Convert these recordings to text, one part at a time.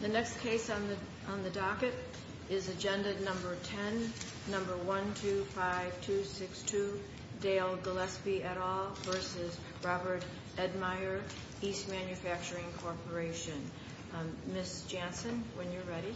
The next case on the docket is Agenda No. 10, No. 125262, Dale Gillespie et al. v. Robert Edmier, East Manufacturing Corporation. Ms. Jansen, when you're ready.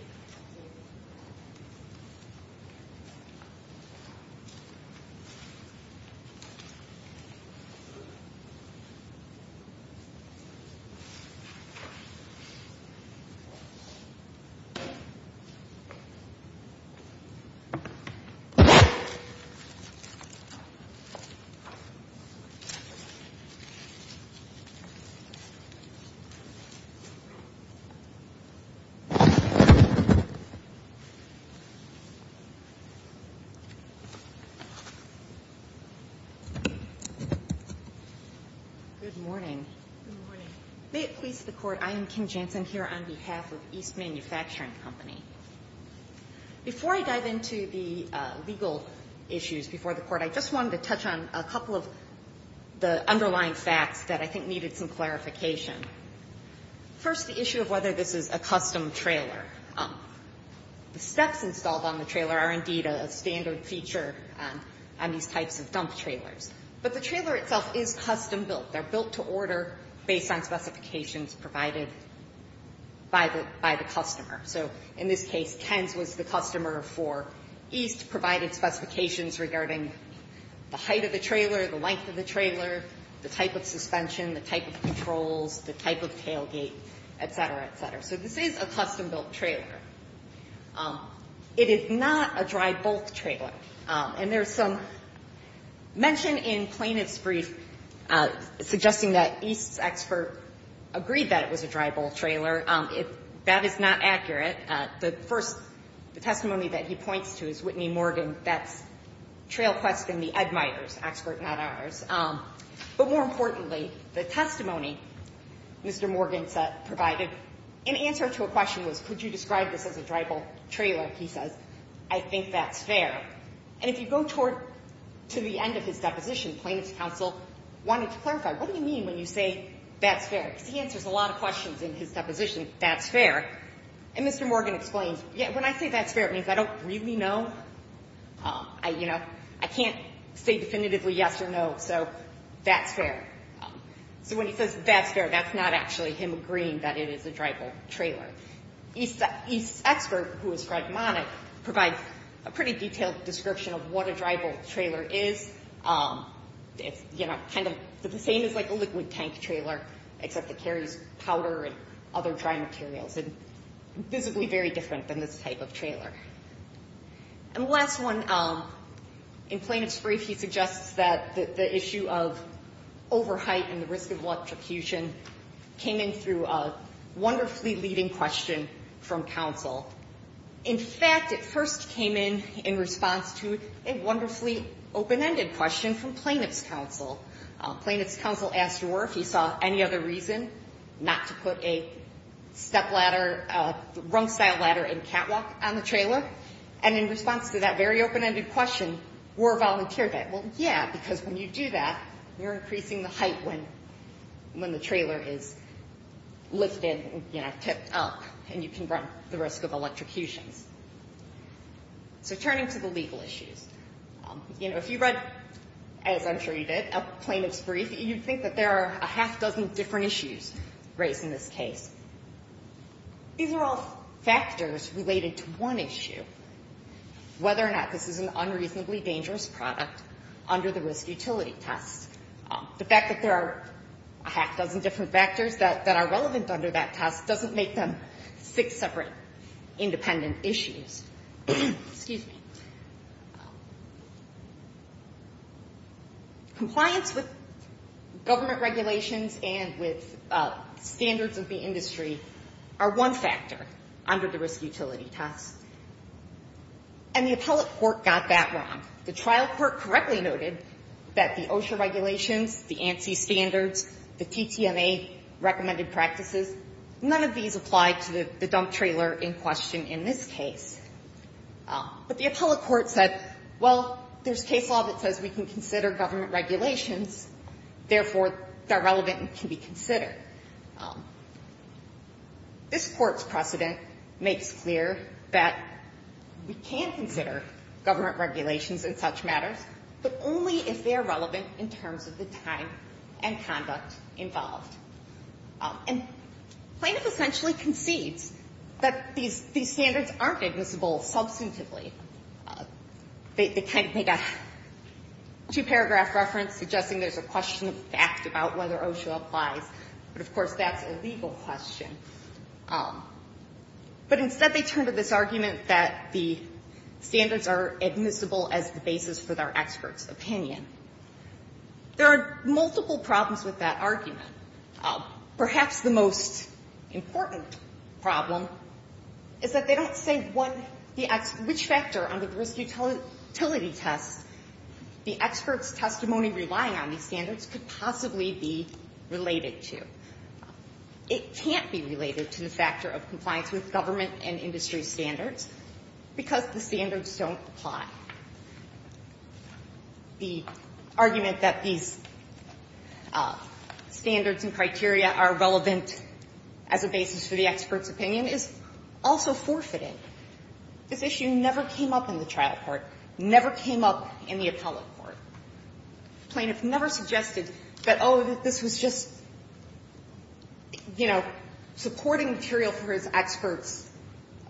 Good morning. Good morning. May it please the Court, I am Kim Jansen here on behalf of East Manufacturing Company. Before I dive into the legal issues before the Court, I just wanted to touch on a couple of the underlying facts that I think needed some clarification. First, the issue of whether this is a custom trailer. The steps installed on the trailer are indeed a standard feature on these types of dump trailers, but the trailer itself is custom-built. They're built to order based on specifications provided by the customer. So in this case, Ken's was the customer for East, provided specifications regarding the height of the trailer, the length of the trailer, the type of suspension, the type of controls, the type of tailgate, et cetera, et cetera. So this is a custom-built trailer. It is not a dry-bulk trailer. And there's some mention in plaintiff's brief suggesting that East's expert agreed that it was a dry-bulk trailer. That is not accurate. The first testimony that he points to is Whitney Morgan. That's Trail Quest and the Ed Meyers expert, not ours. But more importantly, the testimony Mr. Morgan provided in answer to a question was, could you describe this as a dry-bulk trailer? He says, I think that's fair. And if you go toward to the end of his deposition, plaintiff's counsel wanted to clarify, what do you mean when you say that's fair? Because he answers a lot of questions in his deposition, that's fair. And Mr. Morgan explains, yeah, when I say that's fair, it means I don't really know. I can't say definitively yes or no, so that's fair. So when he says that's fair, that's not actually him agreeing that it is a dry-bulk trailer. East's expert, who is pragmatic, provides a pretty detailed description of what a dry-bulk trailer is. It's kind of the same as like a liquid tank trailer, except it carries powder and other dry materials. It's physically very different than this type of trailer. And the last one, in plaintiff's brief, he suggests that the issue of over-height and the risk of electrocution came in through a wonderfully leading question from counsel. In fact, it first came in in response to a wonderfully open-ended question from plaintiff's counsel. Plaintiff's counsel asked Roar if he saw any other reason not to put a step ladder, rung-style ladder and catwalk on the trailer. And in response to that very open-ended question, Roar volunteered that. Well, yeah, because when you do that, you're increasing the height when the trailer is lifted, you know, tipped up, and you can run the risk of electrocutions. So turning to the legal issues. You know, if you read, as I'm sure you did, a plaintiff's brief, you'd think that there are a half-dozen different issues raised in this case. These are all factors related to one issue, whether or not this is an unreasonably dangerous product under the risk utility test. The fact that there are a half-dozen different factors that are relevant under that test doesn't make them six separate independent issues. Excuse me. Compliance with government regulations and with standards of the industry are one factor under the risk utility test. And the appellate court got that wrong. The trial court correctly noted that the OSHA regulations, the ANSI standards, the TTMA recommended practices, none of these apply to the dump trailer in question in this case. But the appellate court said, well, there's case law that says we can consider government regulations, therefore, they're relevant and can be considered. This court's precedent makes clear that we can consider government regulations in such matters, but only if they're relevant in terms of the time and conduct involved. And plaintiff essentially concedes that these standards aren't admissible substantively. They kind of make a two-paragraph reference suggesting there's a question of fact about whether OSHA applies, but, of course, that's a legal question. But instead, they turn to this argument that the standards are admissible as the basis for their expert's opinion. There are multiple problems with that argument. Perhaps the most important problem is that they don't say which factor under the risk utility test the expert's testimony relying on these standards could possibly be related to. It can't be related to the factor of compliance with government and industry standards because the standards don't apply. The argument that these standards and criteria are relevant as a basis for the expert's opinion is also forfeited. This issue never came up in the trial court, never came up in the appellate court. Plaintiff never suggested that, oh, this was just, you know, supporting material for his expert's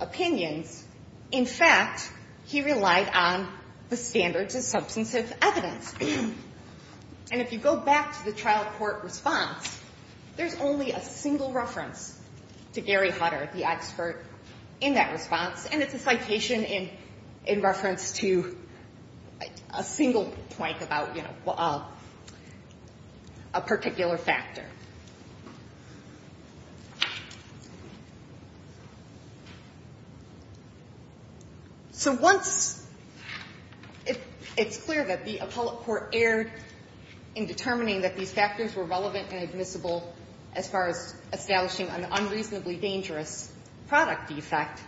opinions. In fact, he relied on the standards of substantive evidence. And if you go back to the trial court response, there's only a single reference to Gary Hutter, the expert in that response, and it's a citation in reference to a single point about, you know, a particular factor. So once it's clear that the appellate court erred in determining that these factors were relevant and admissible as far as establishing an unreasonably dangerous product defect,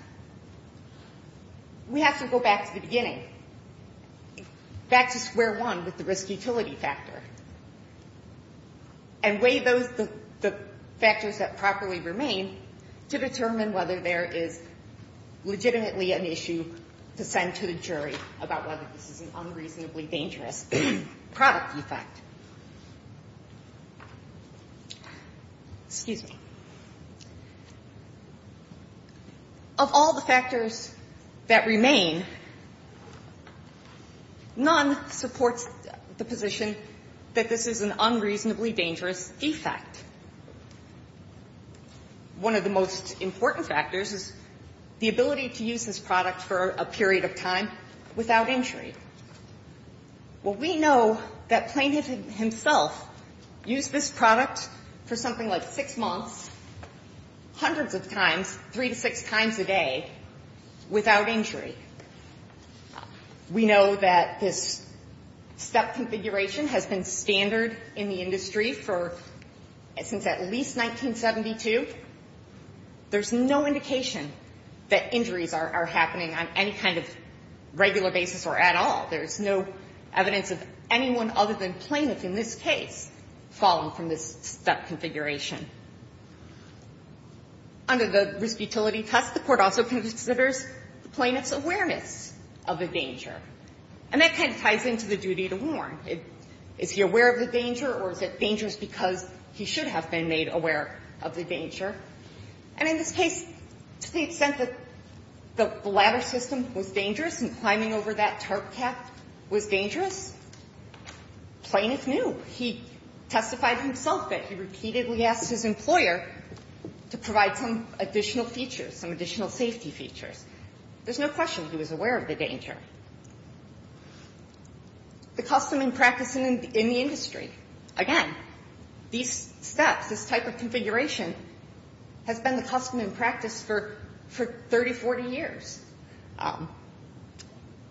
we have to go back to the beginning, back to square one with the risk utility factor, and weigh those factors. We weigh those factors that properly remain to determine whether there is legitimately an issue to send to the jury about whether this is an unreasonably dangerous product defect. Excuse me. Of all the factors that remain, none supports the position that this is an unreasonably dangerous defect. One of the most important factors is the ability to use this product for a period of time without injury. Well, we know that Plaintiff himself used this product for something like six months, hundreds of times, three to six times a day, without injury. We know that this step configuration has been standard in the industry for at least 1972. There is no indication that injuries are happening on any kind of regular basis or at all. There is no evidence of anyone other than Plaintiff in this case falling from this step configuration. Under the risk utility test, the Court also considers the Plaintiff's awareness of the danger. And that kind of ties into the duty to warn. Is he aware of the danger or is it dangerous because he should have been made aware of the danger? And in this case, to the extent that the ladder system was dangerous and climbing over that tarp cap was dangerous, Plaintiff knew. He testified himself that he repeatedly asked his employer to provide some additional features, some additional safety features. There's no question he was aware of the danger. The custom and practice in the industry. Again, these steps, this type of configuration, has been the custom and practice for 30, 40 years.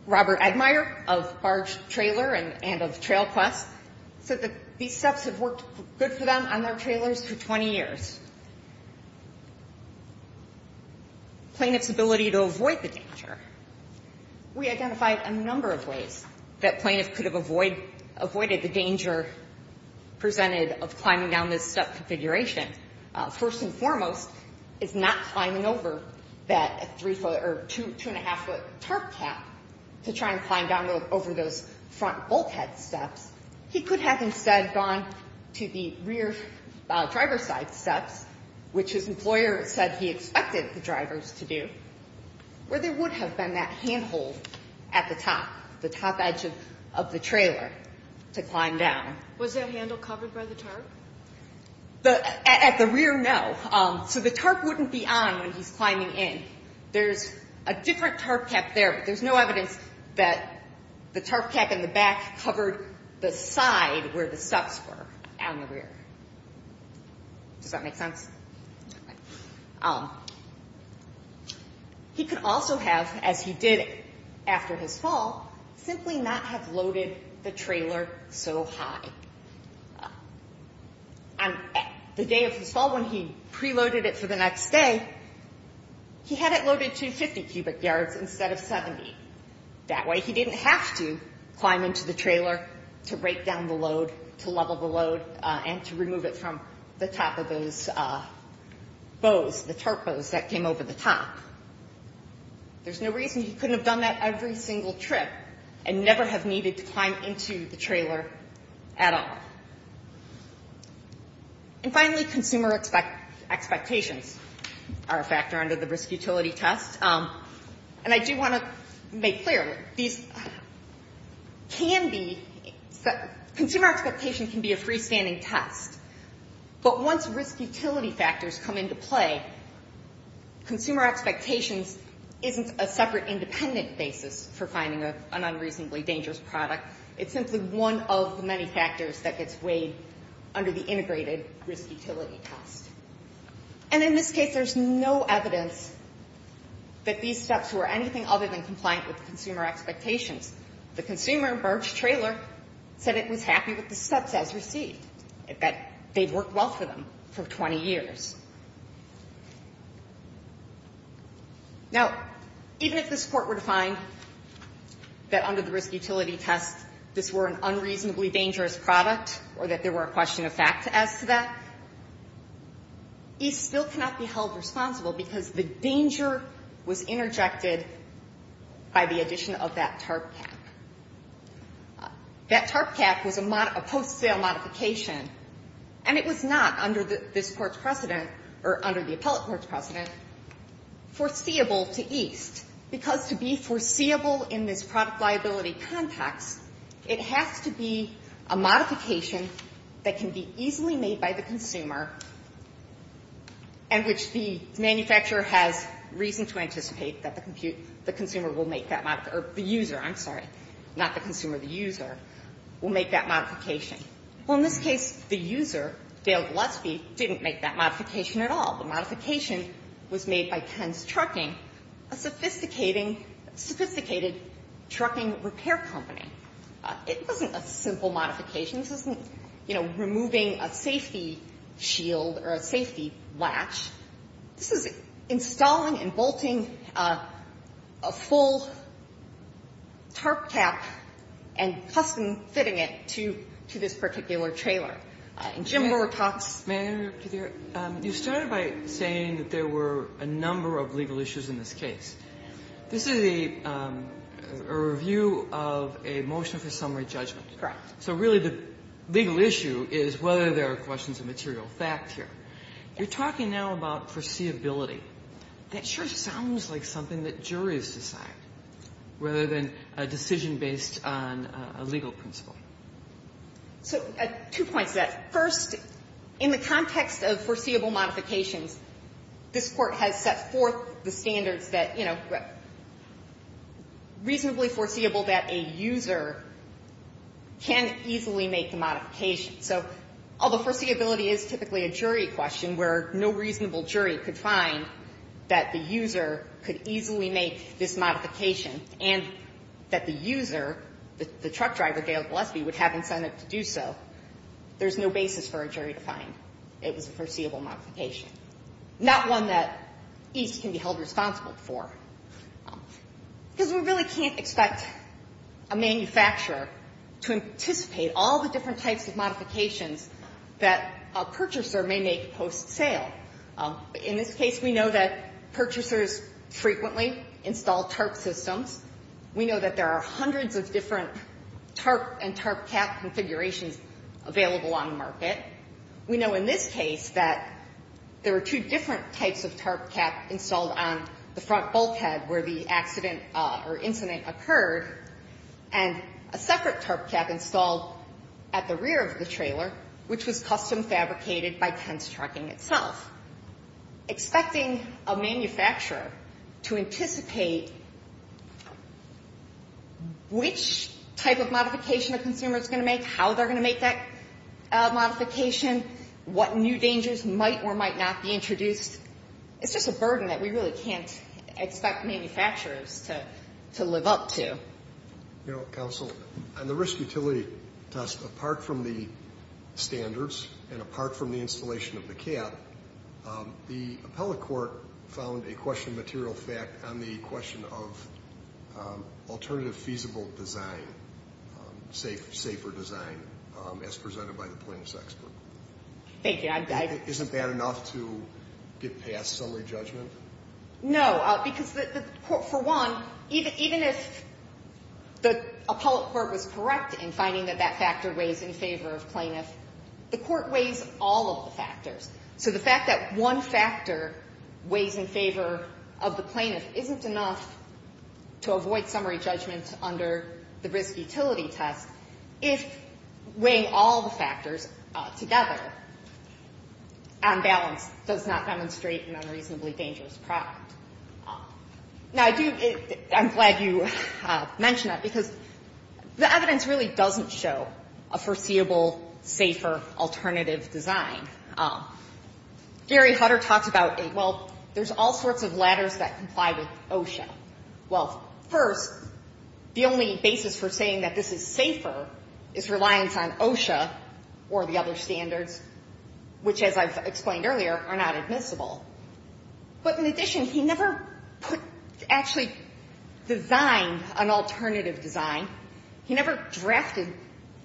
Robert Edmire of Barge Trailer and of Trail Quest said that these steps have worked good for them on their trailers for 20 years. Plaintiff's ability to avoid the danger. We identified a number of ways that Plaintiff could have avoided the danger presented of climbing down this step configuration. First and foremost is not climbing over that two and a half foot tarp cap to try and climb down over those front bulkhead steps. He could have instead gone to the rear driver's side steps, which his employer said he expected the drivers to do, where there would have been that handhold at the top, the top edge of the trailer to climb down. Was that handle covered by the tarp? At the rear, no. So the tarp wouldn't be on when he's climbing in. There's a different tarp cap there, but there's no evidence that the tarp cap in the back covered the side where the steps were on the rear. Does that make sense? He could also have, as he did after his fall, simply not have loaded the trailer so high. On the day of his fall, when he preloaded it for the next day, he had it loaded to 50 cubic yards instead of 70. That way he didn't have to climb into the trailer to break down the load, to level the bows, the tarp bows that came over the top. There's no reason he couldn't have done that every single trip and never have needed to climb into the trailer at all. And finally, consumer expectations are a factor under the risk utility test. And I do want to make clear, these can be, consumer expectation can be a freestanding test, but once risk utility factors come into play, consumer expectations isn't a separate independent basis for finding an unreasonably dangerous product, it's simply one of the many factors that gets weighed under the integrated risk utility test. And in this case, there's no evidence that these steps were anything other than compliant with consumer expectations. The consumer in Barb's trailer said it was happy with the steps as received, that they'd worked well for them for 20 years. Now, even if this Court were to find that under the risk utility test this were an unreasonably dangerous product or that there were a question of fact as to that, he still cannot be held responsible because the danger was interjected by the addition of that tarp cap. That tarp cap was a post-sale modification, and it was not, under this Court's precedent, or under the appellate court's precedent, foreseeable to East, because to be foreseeable in this product liability context, it has to be a modification that can be easily made by the consumer and which the manufacturer has reason to anticipate that the consumer will make that, or the user, I'm sorry, not the consumer, the user, will make that modification. Well, in this case, the user, Dale Gillespie, didn't make that modification at all. The modification was made by Penn's Trucking, a sophisticated trucking repair company. It wasn't a simple modification. This isn't, you know, removing a safety shield or a safety latch. This is installing and bolting a full tarp cap and custom-fitting it to this particular trailer. And Jim Burr talks. Kagan. You started by saying that there were a number of legal issues in this case. This is a review of a motion for summary judgment. Correct. So really the legal issue is whether there are questions of material fact here. You're talking now about foreseeability. That sure sounds like something that juries decide rather than a decision based on a legal principle. So two points to that. First, in the context of foreseeable modifications, this Court has set forth the standards that, you know, reasonably foreseeable that a user can easily make the modification. So, although foreseeability is typically a jury question where no reasonable jury could find that the user could easily make this modification and that the user, the truck driver, Gail Gillespie, would have incentive to do so, there's no basis for a jury to find it was a foreseeable modification. Not one that East can be held responsible for. Because we really can't expect a manufacturer to anticipate all the different types of modifications that a purchaser may make post-sale. In this case, we know that purchasers frequently install TARP systems. We know that there are hundreds of different TARP and TARP cap configurations available on the market. We know in this case that there are two different types of TARP cap installed on the front bulkhead where the accident or incident occurred, and a separate TARP cap installed at the rear of the trailer, which was custom fabricated by Pence Trucking itself. Expecting a manufacturer to anticipate which type of modification a consumer is going to make, how they're going to make that modification, what new dangers might or might not be introduced, it's just a burden that we really can't expect manufacturers to live up to. You know, counsel, on the risk utility test, apart from the standards and apart from the installation of the cap, the appellate court found a question of material fact on the question of alternative feasible design, safer design, as presented by the plaintiff's expert. Thank you. Isn't that enough to get past summary judgment? No, because the court, for one, even if the appellate court was correct in finding that that factor weighs in favor of plaintiff, the court weighs all of the factors. So the fact that one factor weighs in favor of the plaintiff isn't enough to avoid on balance does not demonstrate an unreasonably dangerous product. Now, I do – I'm glad you mentioned that, because the evidence really doesn't show a foreseeable, safer alternative design. Gary Hutter talks about, well, there's all sorts of ladders that comply with OSHA. Well, first, the only basis for saying that this is safer is reliance on OSHA or the other standards, which, as I've explained earlier, are not admissible. But in addition, he never put – actually designed an alternative design. He never drafted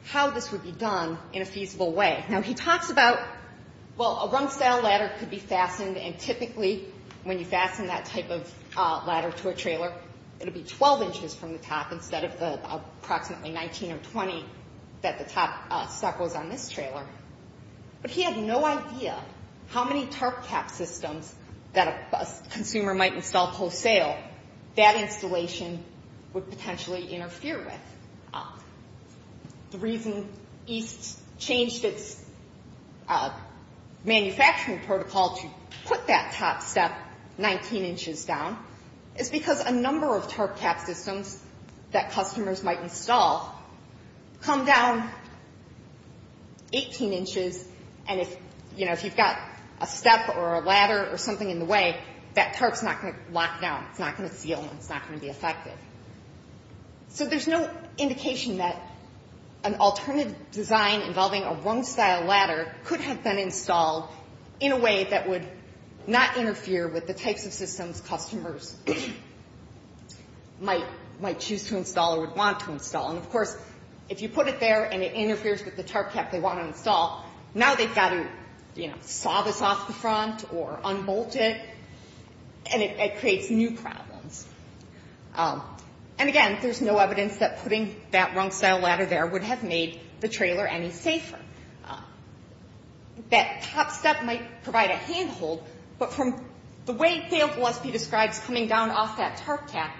how this would be done in a feasible way. Now, he talks about, well, a rung-style ladder could be fastened, and typically when you fasten that type of ladder to a trailer, it would be 12 inches from the top But he had no idea how many tarp cap systems that a consumer might install post-sale that installation would potentially interfere with. The reason East changed its manufacturing protocol to put that top step 19 inches down is because a number of tarp cap systems that customers might install come down 18 inches, and if – you know, if you've got a step or a ladder or something in the way, that tarp's not going to lock down. It's not going to seal, and it's not going to be effective. So there's no indication that an alternative design involving a rung-style ladder could installed in a way that would not interfere with the types of systems customers might choose to install or would want to install. And of course, if you put it there and it interferes with the tarp cap they want to install, now they've got to, you know, saw this off the front or unbolt it, and it creates new problems. And again, there's no evidence that putting that rung-style ladder there would have made the trailer any safer. That top step might provide a handhold, but from the way Dale Gillespie describes coming down off that tarp cap,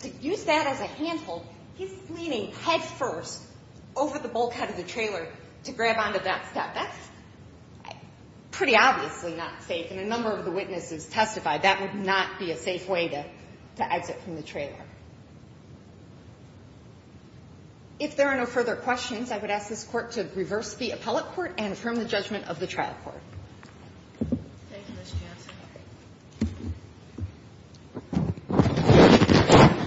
to use that as a handhold, he's leaning headfirst over the bulkhead of the trailer to grab onto that step. That's pretty obviously not safe, and a number of the witnesses testified that would not be a safe way to exit from the trailer. If there are no further questions, I would ask this Court to reverse the appellate court and affirm the judgment of the trial court. Thank you, Ms. Johnson. Ms. Johnson.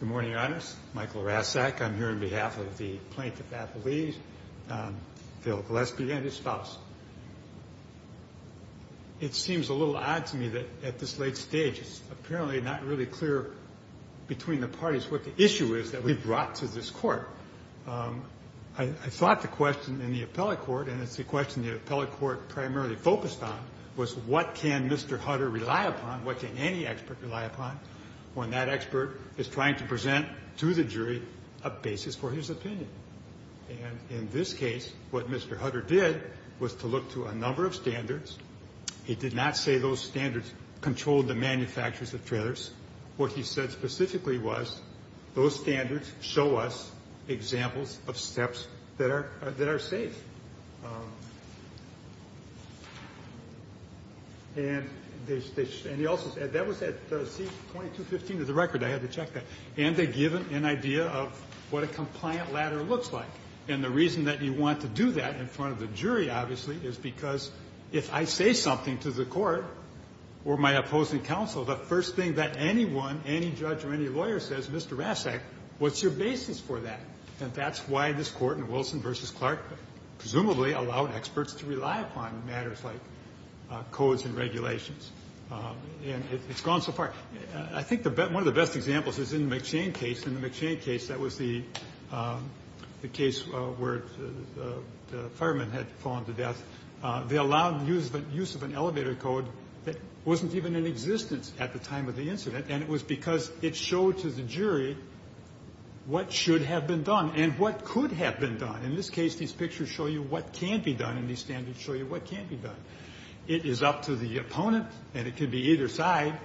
Good morning, Your Honors. Michael Raszak. I'm here on behalf of the plaintiff appellees, Dale Gillespie and his spouse. It seems a little odd to me that at this late stage it's apparently not really clear between the parties what the issue is that we brought to this Court. I thought the question in the appellate court, and it's the question the appellate court primarily focused on, was what can Mr. Hutter rely upon, what can any expert rely upon, when that expert is trying to present to the jury a basis for his opinion? And in this case, what Mr. Hutter did was to look to a number of standards. What he said specifically was, those standards show us examples of steps that are safe. And that was at C-2215 of the record. I had to check that. And they give an idea of what a compliant ladder looks like. And the reason that you want to do that in front of the jury, obviously, is because if I say something to the Court or my opposing counsel, the first thing that anyone, any judge or any lawyer says, Mr. Rasek, what's your basis for that? And that's why this Court in Wilson v. Clark presumably allowed experts to rely upon matters like codes and regulations. And it's gone so far. I think one of the best examples is in the McShane case. In the McShane case, that was the case where the fireman had fallen to death. They allowed the use of an elevator code that wasn't even in existence at the time of the incident. And it was because it showed to the jury what should have been done and what could have been done. In this case, these pictures show you what can be done, and these standards show you what can't be done. It is up to the opponent, and it could be either side,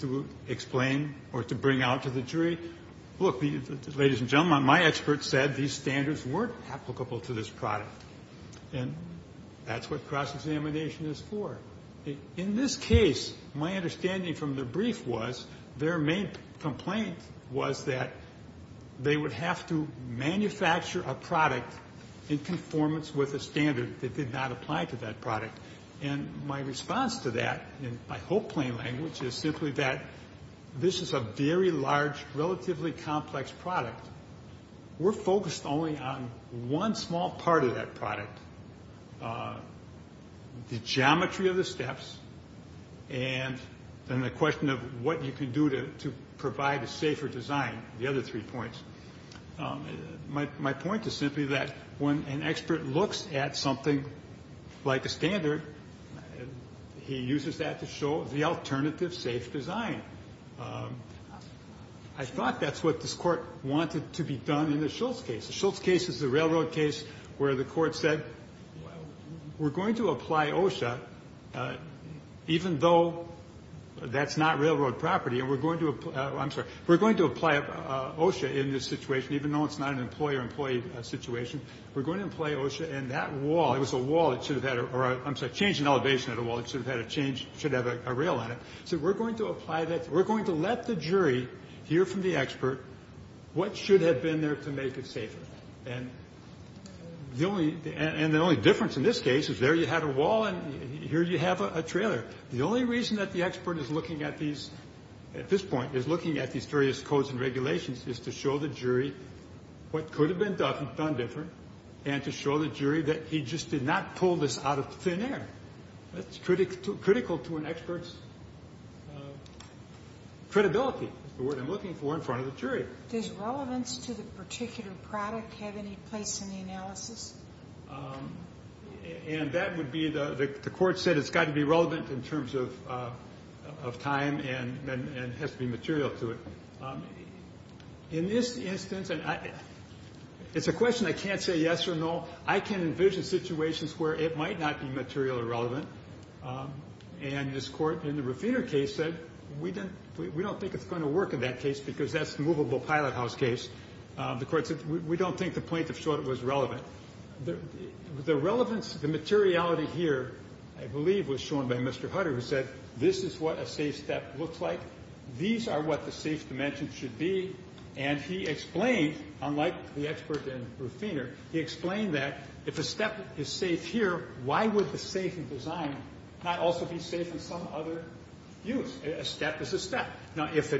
to explain or to bring out to the jury. Look, ladies and gentlemen, my expert said these standards weren't applicable to this product. And that's what cross-examination is for. In this case, my understanding from the brief was their main complaint was that they would have to manufacture a product in conformance with a standard that did not apply to that product. And my response to that, in my whole plain language, is simply that this is a very large, relatively complex product. We're focused only on one small part of that product, the geometry of the steps, and then the question of what you can do to provide a safer design, the other three points. My point is simply that when an expert looks at something like a standard, he uses that to show the alternative safe design. I thought that's what this Court wanted to be done in the Schultz case. The Schultz case is the railroad case where the Court said we're going to apply OSHA, even though that's not railroad property, and we're going to apply OSHA in this situation, even though it's not an employer-employee situation. We're going to apply OSHA in that wall. It was a wall that should have had a rail on it. So we're going to apply that. We're going to let the jury hear from the expert what should have been there to make it safer. And the only difference in this case is there you had a wall and here you have a trailer. The only reason that the expert is looking at these, at this point, is looking at these various codes and regulations is to show the jury what could have been done different and to show the jury that he just did not pull this out of thin air. That's critical to an expert's credibility, the word I'm looking for in front of the jury. Does relevance to the particular product have any place in the analysis? And that would be the Court said it's got to be relevant in terms of time and has to be material to it. In this instance, it's a question I can't say yes or no. I can envision situations where it might not be material or relevant. And this Court, in the Ruffiner case, said we don't think it's going to work in that case because that's the movable pilot house case. The Court said we don't think the plaintiff thought it was relevant. The relevance, the materiality here, I believe, was shown by Mr. Hutter, who said this is what a safe step looks like. These are what the safe dimensions should be. And he explained, unlike the expert in Ruffiner, he explained that if a step is safe here, why would the safe in design not also be safe in some other use? A step is a step. Now, if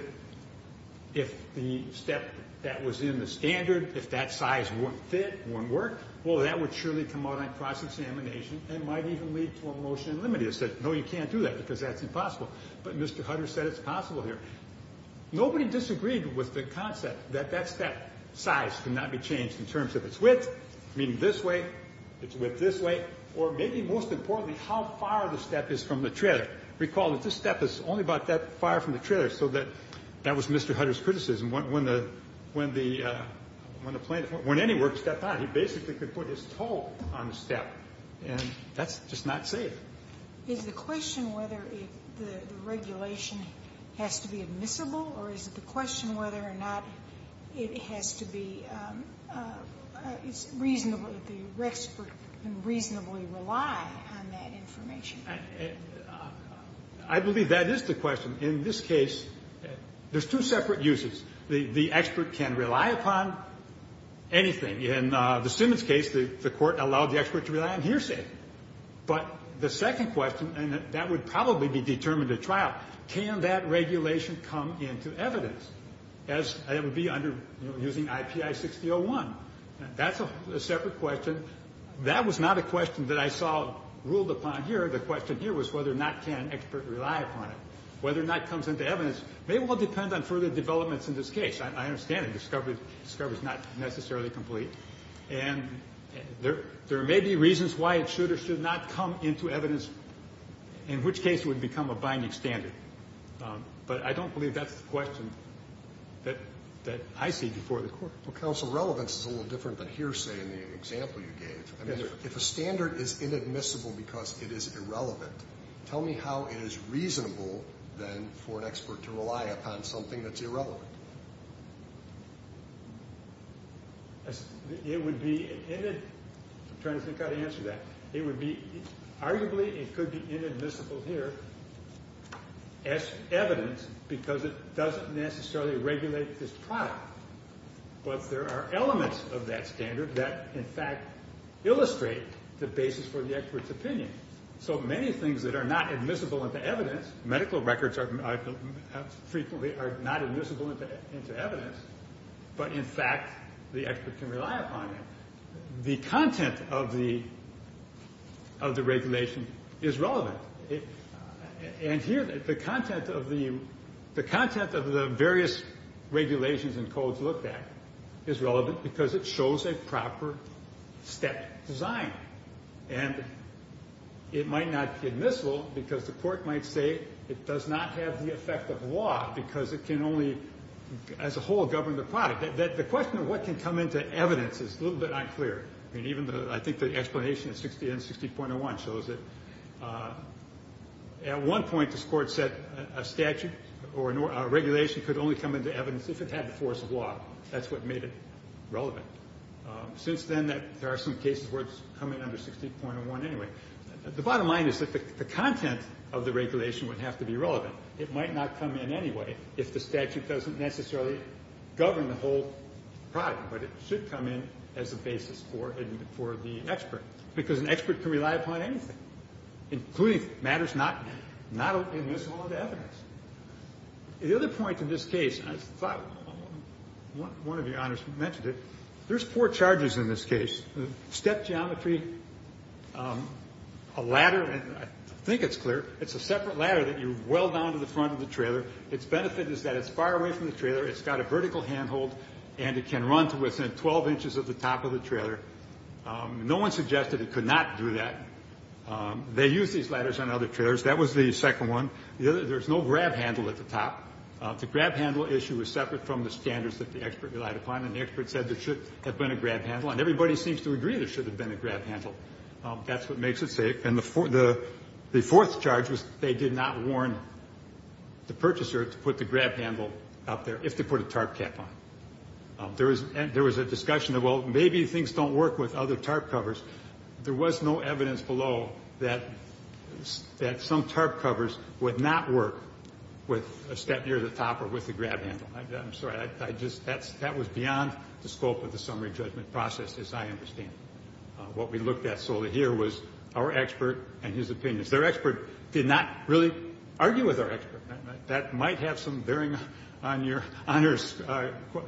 the step that was in the standard, if that size wouldn't fit, wouldn't work, well, that would surely come out on cross-examination and might even lead to a motion to limit it. He said, no, you can't do that because that's impossible. But Mr. Hutter said it's possible here. Nobody disagreed with the concept that that step size cannot be changed in terms of its width, meaning this way, its width this way, or maybe most importantly, how far the step is from the trailer. Recall that this step is only about that far from the trailer, so that that was Mr. Hutter's criticism. When the plaintiff, when any work stepped on, he basically could put his toe on the step, and that's just not safe. Sotomayor, is the question whether the regulation has to be admissible, or is it the question whether or not it has to be reasonably, the expert can reasonably rely on that information? I believe that is the question. In this case, there's two separate uses. The expert can rely upon anything. In the Simmons case, the Court allowed the expert to rely on hearsay. But the second question, and that would probably be determined at trial, can that regulation come into evidence, as it would be under, you know, using IPI 6001? That's a separate question. That was not a question that I saw ruled upon here. The question here was whether or not can an expert rely upon it. Whether or not it comes into evidence may well depend on further developments in this case. I understand it. Discovery is not necessarily complete. And there may be reasons why it should or should not come into evidence, in which case it would become a binding standard. But I don't believe that's the question that I see before the Court. Well, counsel, relevance is a little different than hearsay in the example you gave. If a standard is inadmissible because it is irrelevant, tell me how it is reasonable, then, for an expert to rely upon something that's irrelevant. It would be, I'm trying to think how to answer that. It would be, arguably it could be inadmissible here as evidence because it doesn't necessarily regulate this product. But there are elements of that standard that, in fact, illustrate the basis for the expert's opinion. So many things that are not admissible in the evidence, medical records frequently are not admissible in the evidence. But, in fact, the expert can rely upon it. The content of the regulation is relevant. And here, the content of the various regulations and codes looked at is relevant because it shows a proper step design. And it might not be admissible because the Court might say it does not have the effect of law because it can only, as a whole, govern the product. The question of what can come into evidence is a little bit unclear. I think the explanation in 60 and 60.01 shows that at one point this Court said a statute or a regulation could only come into evidence if it had the force of law. That's what made it relevant. Since then, there are some cases where it's come in under 60.01 anyway. The bottom line is that the content of the regulation would have to be relevant. It might not come in anyway if the statute doesn't necessarily govern the whole product. But it should come in as a basis for the expert because an expert can rely upon anything, including matters not admissible in the evidence. The other point in this case, I thought one of your honors mentioned it. There's four charges in this case. Step geometry, a ladder, and I think it's clear. It's a separate ladder that you well down to the front of the trailer. Its benefit is that it's far away from the trailer. It's got a vertical handhold, and it can run to within 12 inches at the top of the trailer. No one suggested it could not do that. They use these ladders on other trailers. That was the second one. There's no grab handle at the top. The grab handle issue is separate from the standards that the expert relied upon, and the expert said there should have been a grab handle, and everybody seems to agree there should have been a grab handle. That's what makes it safe. And the fourth charge was they did not warn the purchaser to put the grab handle up there if they put a tarp cap on. There was a discussion of, well, maybe things don't work with other tarp covers. There was no evidence below that some tarp covers would not work with a step near the top or with the grab handle. I'm sorry. That was beyond the scope of the summary judgment process, as I understand it. What we looked at solely here was our expert and his opinions. Their expert did not really argue with our expert. That might have some bearing on your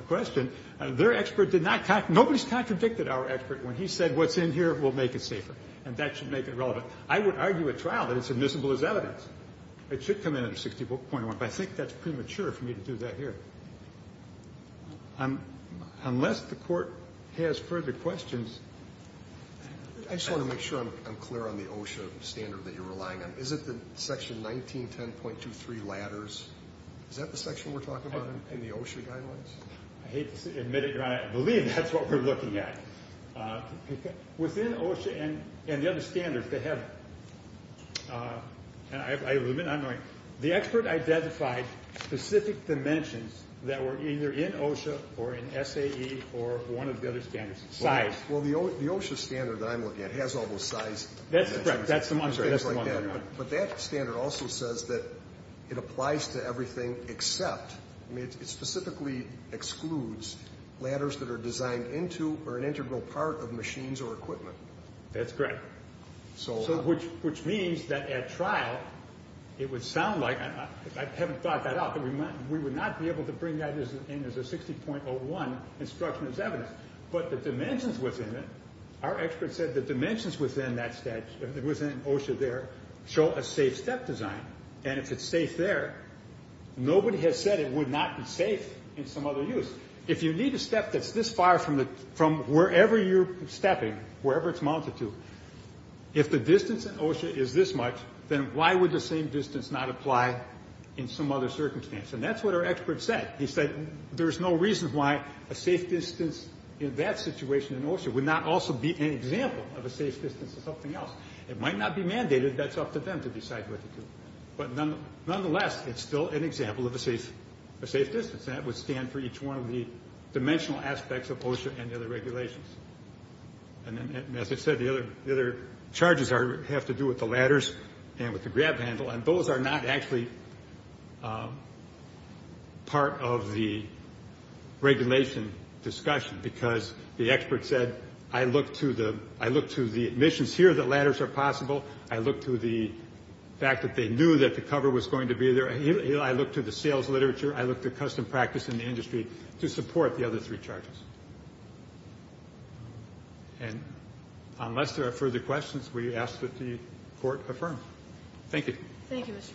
question. Their expert did not – nobody's contradicted our expert. When he said what's in here will make it safer, and that should make it relevant. I would argue at trial that it's admissible as evidence. It should come in under 60.1, but I think that's premature for me to do that here. Unless the Court has further questions. I just want to make sure I'm clear on the OSHA standard that you're relying on. Is it the section 1910.23 ladders? Is that the section we're talking about in the OSHA guidelines? I hate to admit it, Your Honor. I believe that's what we're looking at. Within OSHA and the other standards, they have – and I have a limit on mine. The expert identified specific dimensions that were either in OSHA or in SAE or one of the other standards. Size. Well, the OSHA standard that I'm looking at has all those size dimensions. That's the one. But that standard also says that it applies to everything except – I mean, it specifically excludes ladders that are designed into or an integral part of machines or equipment. That's correct. Which means that at trial, it would sound like – I haven't thought that out – that we would not be able to bring that in as a 60.01 instruction as evidence. But the dimensions within it – our expert said the dimensions within OSHA there show a safe step design. And if it's safe there, nobody has said it would not be safe in some other use. If you need a step that's this far from wherever you're stepping, wherever it's mounted to, if the distance in OSHA is this much, then why would the same distance not apply in some other circumstance? And that's what our expert said. He said there's no reason why a safe distance in that situation in OSHA would not also be an example of a safe distance in something else. It might not be mandated. That's up to them to decide what to do. But nonetheless, it's still an example of a safe distance, and that would stand for each one of the dimensional aspects of OSHA and the other regulations. And as I said, the other charges have to do with the ladders and with the grab handle, and those are not actually part of the regulation discussion because the expert said, I look to the admissions here that ladders are possible. I look to the fact that they knew that the cover was going to be there. I look to the sales literature. I look to custom practice in the industry to support the other three charges. And unless there are further questions, we ask that the Court affirm. Thank you. Thank you, Mr. Ratzak.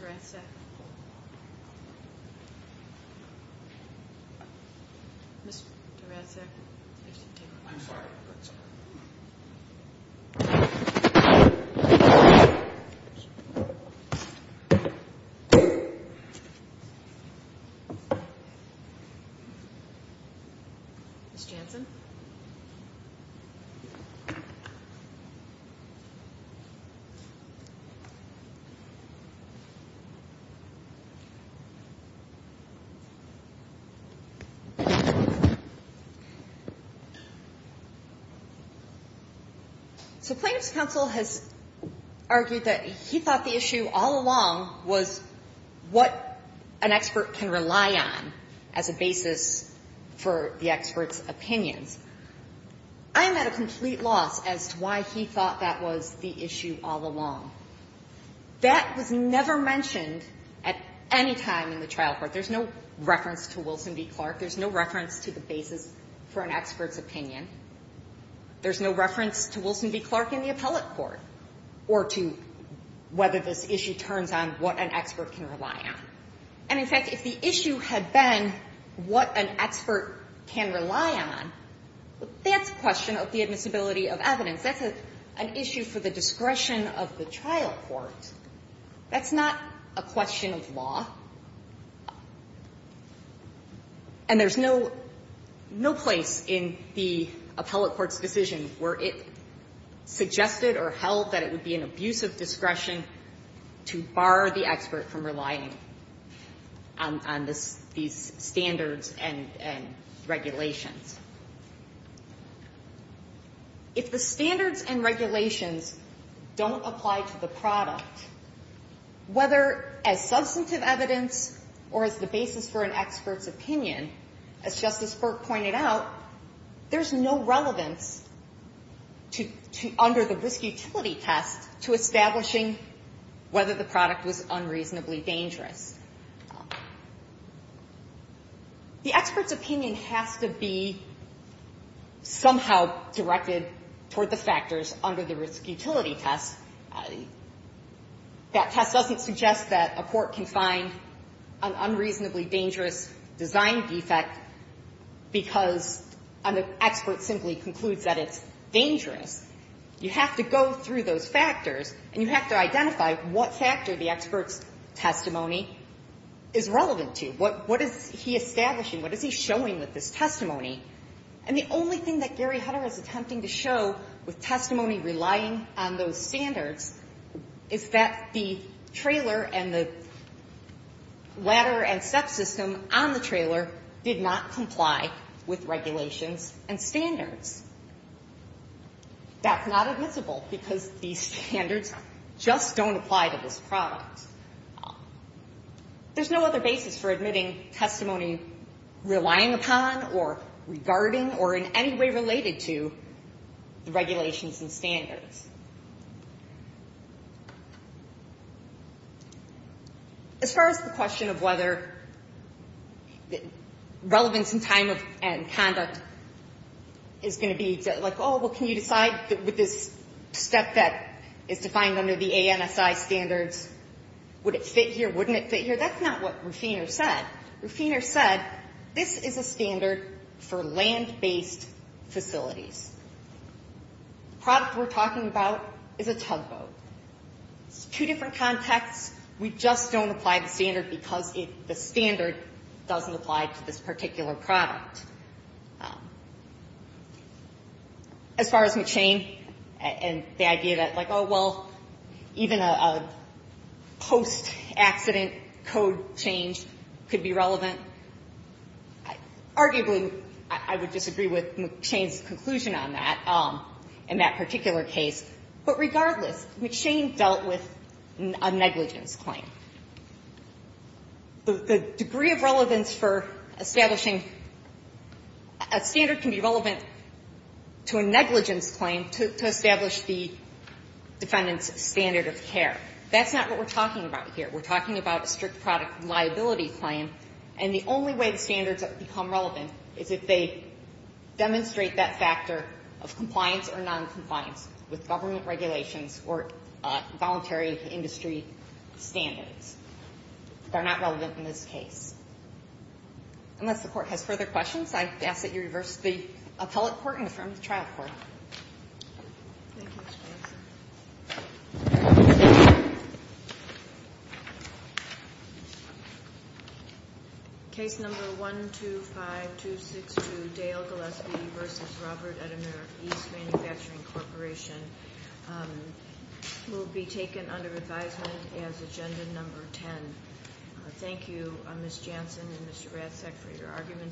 Mr. Ratzak. So plaintiff's counsel has argued that he thought the issue all along was what an expert can rely on as a basis for the expert's opinions. I am at a complete loss as to why he thought that was the issue all along. That was never mentioned at any time in the trial court. There's no reference to Wilson v. Clark. There's no reference to the basis for an expert's opinion. There's no reference to Wilson v. Clark in the appellate court, or to whether this issue turns on what an expert can rely on. And, in fact, if the issue had been what an expert can rely on, that's a question of the admissibility of evidence. That's an issue for the discretion of the trial court. That's not a question of law. And there's no place in the appellate court's decision where it suggested or held that it would be an abuse of discretion to bar the expert from relying on these standards and regulations. If the standards and regulations don't apply to the product, whether as substantive evidence or as the basis for an expert's opinion, as Justice Burke pointed out, there's no relevance under the risk utility test to establishing whether the product was unreasonably dangerous. The expert's opinion has to be somehow directed toward the factors under the risk utility test. That test doesn't suggest that a court can find an unreasonably dangerous design defect because an expert simply concludes that it's dangerous. You have to go through those factors, and you have to identify what factor the expert's opinion is relevant to. What is he establishing? What is he showing with his testimony? And the only thing that Gary Hutter is attempting to show with testimony relying on those standards is that the trailer and the ladder and step system on the trailer did not comply with regulations and standards. That's not admissible because these standards just don't apply to this product. There's no other basis for admitting testimony relying upon or regarding or in any way related to the regulations and standards. As far as the question of whether relevance in time and conduct is going to be, like, oh, well, can you decide with this step that is defined under the ANSI standards would it fit here, wouldn't it fit here, that's not what Rufiner said. Rufiner said this is a standard for land-based facilities. The product we're talking about is a tugboat. It's two different contexts. We just don't apply the standard because the standard doesn't apply to this particular product. As far as McShane and the idea that, like, oh, well, even a post-accident code change could be relevant, arguably, I would disagree with McShane's conclusion on that in that particular case. But regardless, McShane dealt with a negligence claim. The degree of relevance for establishing a standard can be relevant to a negligence claim to establish the defendant's standard of care. That's not what we're talking about here. We're talking about a strict product liability claim, and the only way the standards become relevant is if they demonstrate that factor of compliance or noncompliance with government regulations or voluntary industry standards. They're not relevant in this case. Unless the Court has further questions, I ask that you reverse the appellate court and affirm the trial court. Thank you, Ms. Jansen. Case number 125262, Dale Gillespie v. Robert Edimer East Manufacturing Corporation, will be taken under advisement as agenda number 10. Thank you, Ms. Jansen and Mr. Ratzak, for your arguments.